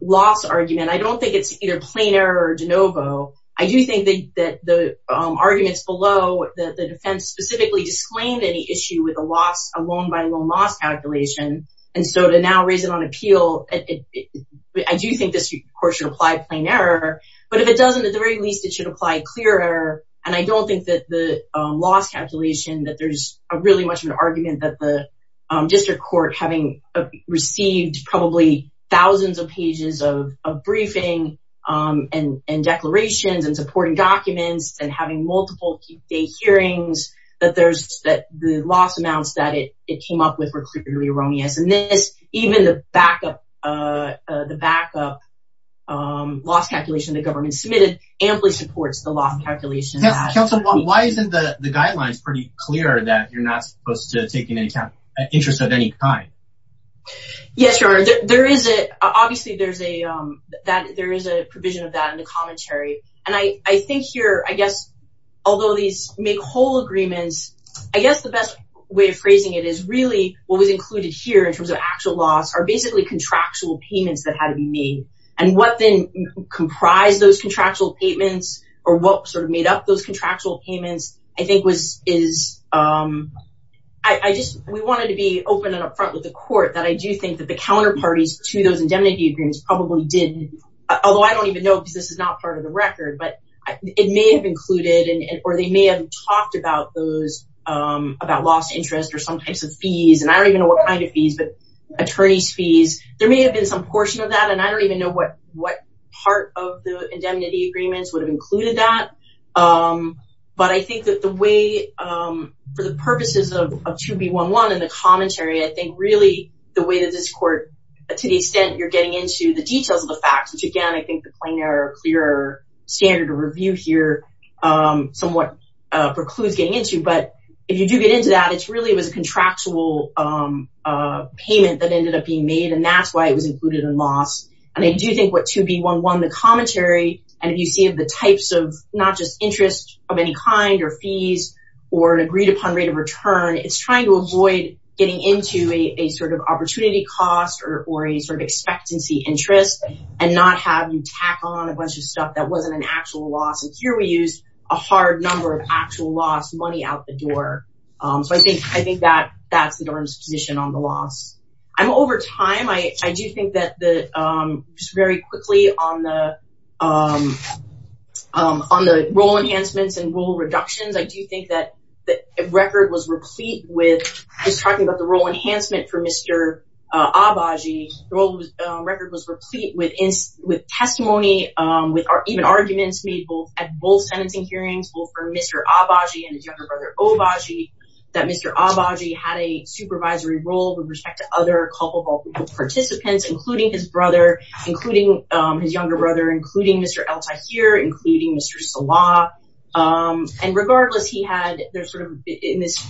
loss argument, I don't think it's either plain error or de novo. I do think that the arguments below, the defense specifically disclaimed any issue with a loss, a loan by loan loss calculation. And so to now raise it on appeal, I do think this, of course, should apply plain error. But if it doesn't, at the very least, it should apply clear error. And I don't think that the loss calculation, that there's really much of an argument that the district court, having received probably thousands of pages of briefing and declarations and supporting documents and having multiple key hearings, that the loss amounts that it came up with were clearly erroneous. And this, even the backup, the backup loss calculation the government submitted, amply supports the loss calculation. Yes, counsel, why isn't the guidelines pretty clear that you're not supposed to take an interest of any kind? Yes, your honor, there is it. Obviously, there is a provision of that in the commentary. And I think here, I guess, although these make whole agreements, I guess the best way of phrasing it is really what was included here in terms of actual loss are basically contractual payments that had to be made. And what then comprised those contractual payments or what sort of made up those contractual payments, I think, is, I just, we wanted to be open and up front with the court that I do think that the counterparties to those indemnity agreements probably did, although I don't even know because this is not part of the record, but it may have included or they may have talked about those, about lost interest or some types of fees. And I don't even know what kind of fees, but attorney's fees. There may have been some portion of that. And I don't even know what part of the indemnity agreements would have included that. But I think that the way, for the purposes of 2B11 in the commentary, I think really the way that this court, to the extent you're getting into the details of the facts, which again, I think the plainer, clearer standard of review here somewhat precludes getting into. But if you do get into that, it's really, it was a contractual payment that ended up being made. And that's why it was included in loss. And I do think what 2B11, the commentary, and if you see the types of not just interest of any kind or fees or an agreed upon rate of return, it's trying to avoid getting into a sort of opportunity cost or a sort of expectancy interest and not have you tack on a bunch of stuff that wasn't an actual loss. And here we use a hard number of actual loss, money out the door. So I think that that's the Durham's position on the loss. And over time, I do think that the, just very quickly on the role enhancements and rule reductions, I do think that the record was replete with, just talking about the role enhancement for Mr. Abaji, the record was replete with testimony, with even arguments made at both sentencing hearings, both for Mr. Abaji and his younger brother Obaji, that Mr. Abaji had a supervisory role with respect to other culpable participants, including his brother, including his younger brother, including Mr. El-Tahir, including Mr. Salah. And regardless, he had, there's sort of, in this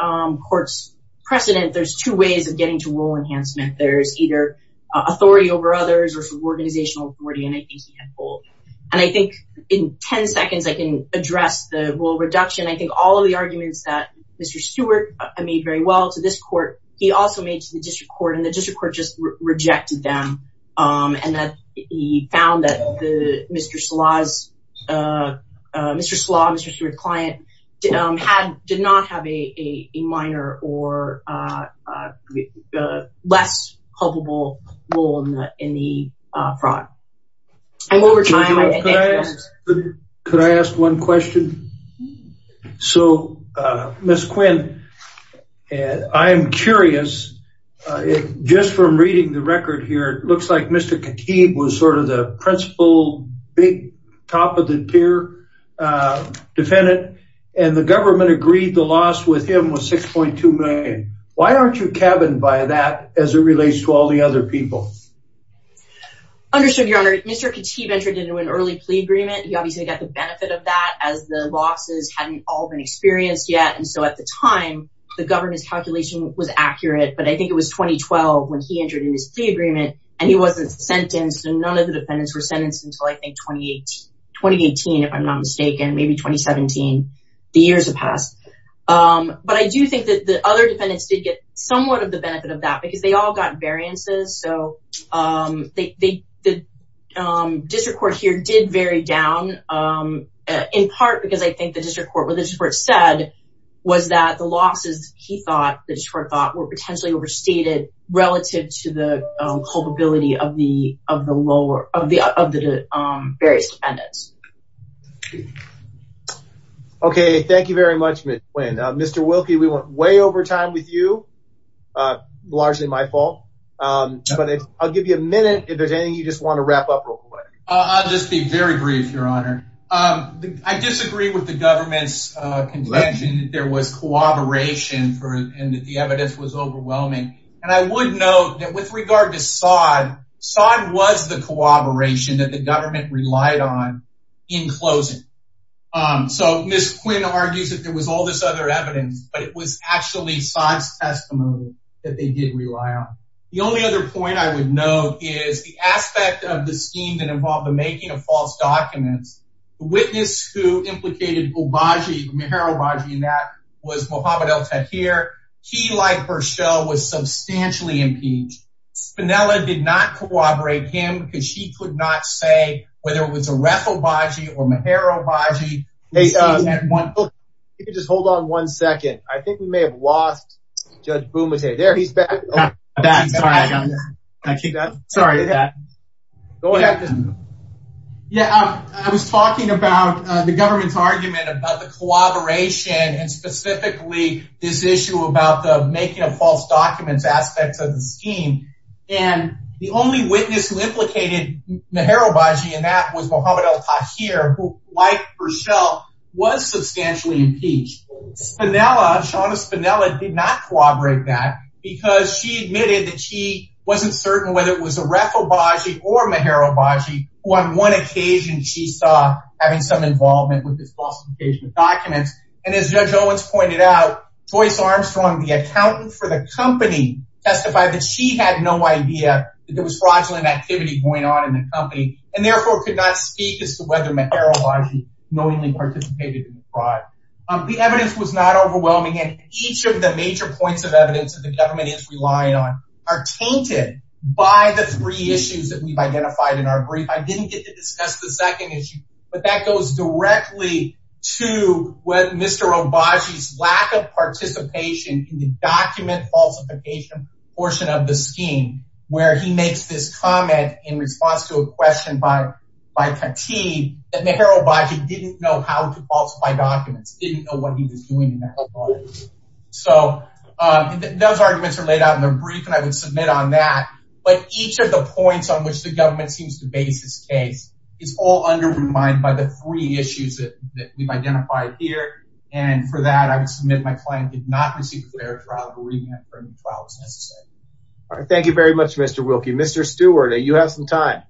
court's precedent, there's two ways of getting to rule enhancement. There's either authority over others or sort of organizational authority, and I think he had both. And I think in 10 seconds, I can address the rule reduction. I think all of the arguments that Mr. Stewart made very well to this court, he also made to the district court, and the district court just rejected them. And that he found that Mr. Salah, Mr. Stewart's client, did not have a minor or less culpable role in the fraud. And over time, I think that's- Could I ask one question? So, Ms. Quinn, I'm curious, just from reading the record here, it looks like Mr. Khatib was sort of the principal, big, top of the tier defendant, and the government agreed the loss with him was $6.2 million. Why aren't you cabined by that as it relates to all the other people? Understood, Your Honor. Mr. Khatib entered into an early plea agreement. He obviously got the benefit of that, as the losses hadn't all been experienced yet. And so at the time, the government's calculation was accurate. But I think it was 2012 when he entered into his plea agreement, and he wasn't sentenced. And none of the defendants were sentenced until, I think, 2018, if I'm not mistaken, maybe 2017. The years have passed. But I do think that the other defendants did get somewhat of the benefit of that, because they all got variances. So the district court here did vary down, in part because I think the district court said was that the losses he thought, the district court thought, were potentially overstated relative to the culpability of the various defendants. Okay, thank you very much, Ms. Quinn. Mr. Wilkie, we went way over time with you, largely my fault. I'll give you a minute if there's anything you just want to wrap up real quick. I'll just be very brief, Your Honor. I disagree with the government's contention that there was cooperation and that the evidence was overwhelming. And I would note that with regard to Sod, Sod was the cooperation that the government relied on in closing. So Ms. Quinn argues that there was all this other evidence, but it was actually Sod's testimony that they did rely on. The only other point I would note is the aspect of the scheme that involved the making of false documents. The witness who implicated Obagi, Meher Obagi, in that was Mohamed El-Tahir. He, like Berchel, was substantially impeached. Spinella did not corroborate him because she could not say whether it was Aref Obagi or Meher Obagi. If you could just hold on one second. I think we may have lost Judge Bumate. There he's back. Yeah, I was talking about the government's argument about the collaboration and specifically this issue about the making of false documents aspects of the scheme. And the only witness who implicated Meher Obagi in that was Mohamed El-Tahir, who, like Berchel, was substantially impeached. Spinella, Shauna Spinella, did not corroborate that because she admitted that she wasn't certain whether it was Aref Obagi or Meher Obagi, who on one occasion she saw having some involvement with this false engagement documents. And as Judge Owens pointed out, Joyce Armstrong, the accountant for the company, testified that she had no idea that there was fraudulent activity going on in the company and therefore could not speak as to whether Meher Obagi knowingly participated in the fraud. The evidence was not overwhelming, and each of the major points of evidence that the government is relying on are tainted by the three issues that we've identified in our brief. I didn't get to discuss the second issue, but that goes directly to what Mr. Obagi's lack of participation in the document falsification portion of the scheme, where he makes this what he was doing. So those arguments are laid out in the brief, and I would submit on that. But each of the points on which the government seems to base this case is all undermined by the three issues that we've identified here. And for that, I would submit my client did not receive a fair trial, believing that a fair trial was necessary. All right. Thank you very much, Mr. Wilkie. Mr. Stewart, you have some time.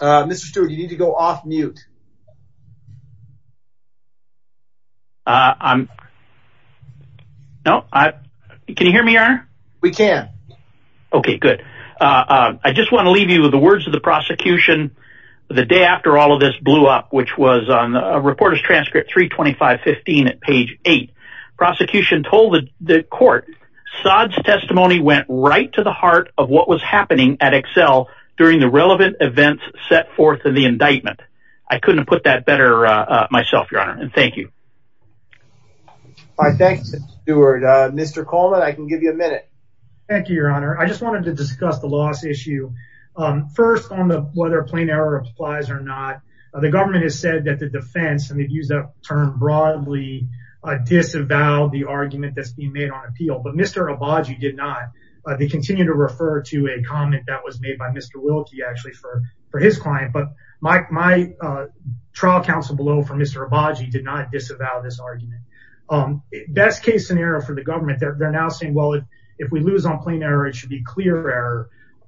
Mr. Stewart, you need to go off mute. I'm. No, I can hear me are we can. Okay, good. I just want to leave you with the words of the prosecution. The day after all of this blew up, which was on a reporter's transcript 325 15 at page eight. Prosecution told the court Sod's testimony went right to the heart of what was happening at Excel during the relevant events set forth in the indictment. I couldn't put that better myself, Your Honor. And thank you. All right. Thanks, Stewart. Mr. Coleman, I can give you a minute. Thank you, Your Honor. I just wanted to discuss the loss issue first on the whether plain error applies or not. The government has said that the defense and they've used that term broadly disavowed the argument that's being made on appeal. But Mr. Obagi did not. They continue to refer to a comment that was made by Mr. Wilkie actually for his client. But my trial counsel below for Mr. Obagi did not disavow this argument. Best case scenario for the government, they're now saying, well, if we lose on plain error, it should be clear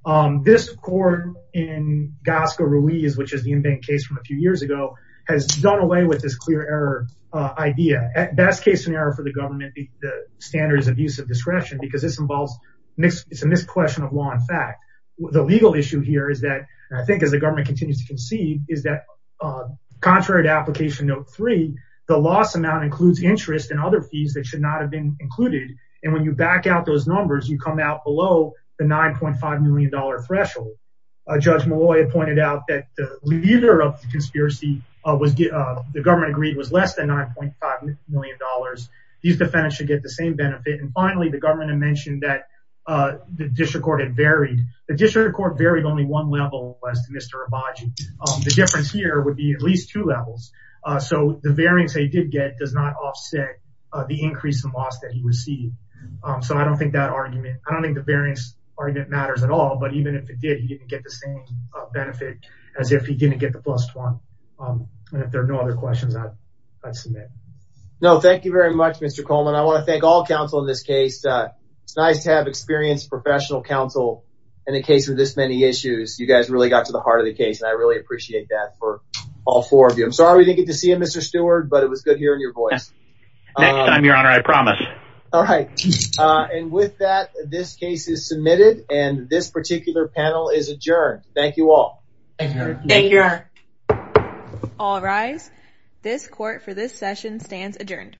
error. This court in Gasca Ruiz, which is the in-bank case from a few years ago, has done away with this clear error idea. At best case scenario for the government, the standards of use of discretion, because this involves it's a misquestion of law and fact. The legal issue here is that I think as the government continues to concede is that contrary to application note three, the loss amount includes interest and other fees that should not have been included. And when you back out those numbers, you come out below the $9.5 million threshold. Judge Malloy pointed out that the leader of the conspiracy, the government agreed, was less than $9.5 million. These defendants should get the same benefit. And finally, the government had mentioned that the district court had varied. The district court varied only one level as to Mr. Obagi. The difference here would be at least two levels. So the variance that he did get does not offset the increase in loss that he received. So I don't think that argument, I don't think the variance argument matters at all. But even if it did, he didn't get the same benefit as if he didn't get the plus one. And if there are no other questions, I'd submit. No, thank you very much, Mr. Coleman. I want to thank all counsel in this case. It's nice to have experienced professional counsel in the case of this many issues. You guys really got to the heart of the case. And I really appreciate that for all four of you. Sorry we didn't get to see him, Mr. Stewart, but it was good hearing your voice. Next time, Your Honor, I promise. All right. And with that, this case is submitted. And this particular panel is adjourned. Thank you all. Thank you, Your Honor. All rise. This court for this session stands adjourned.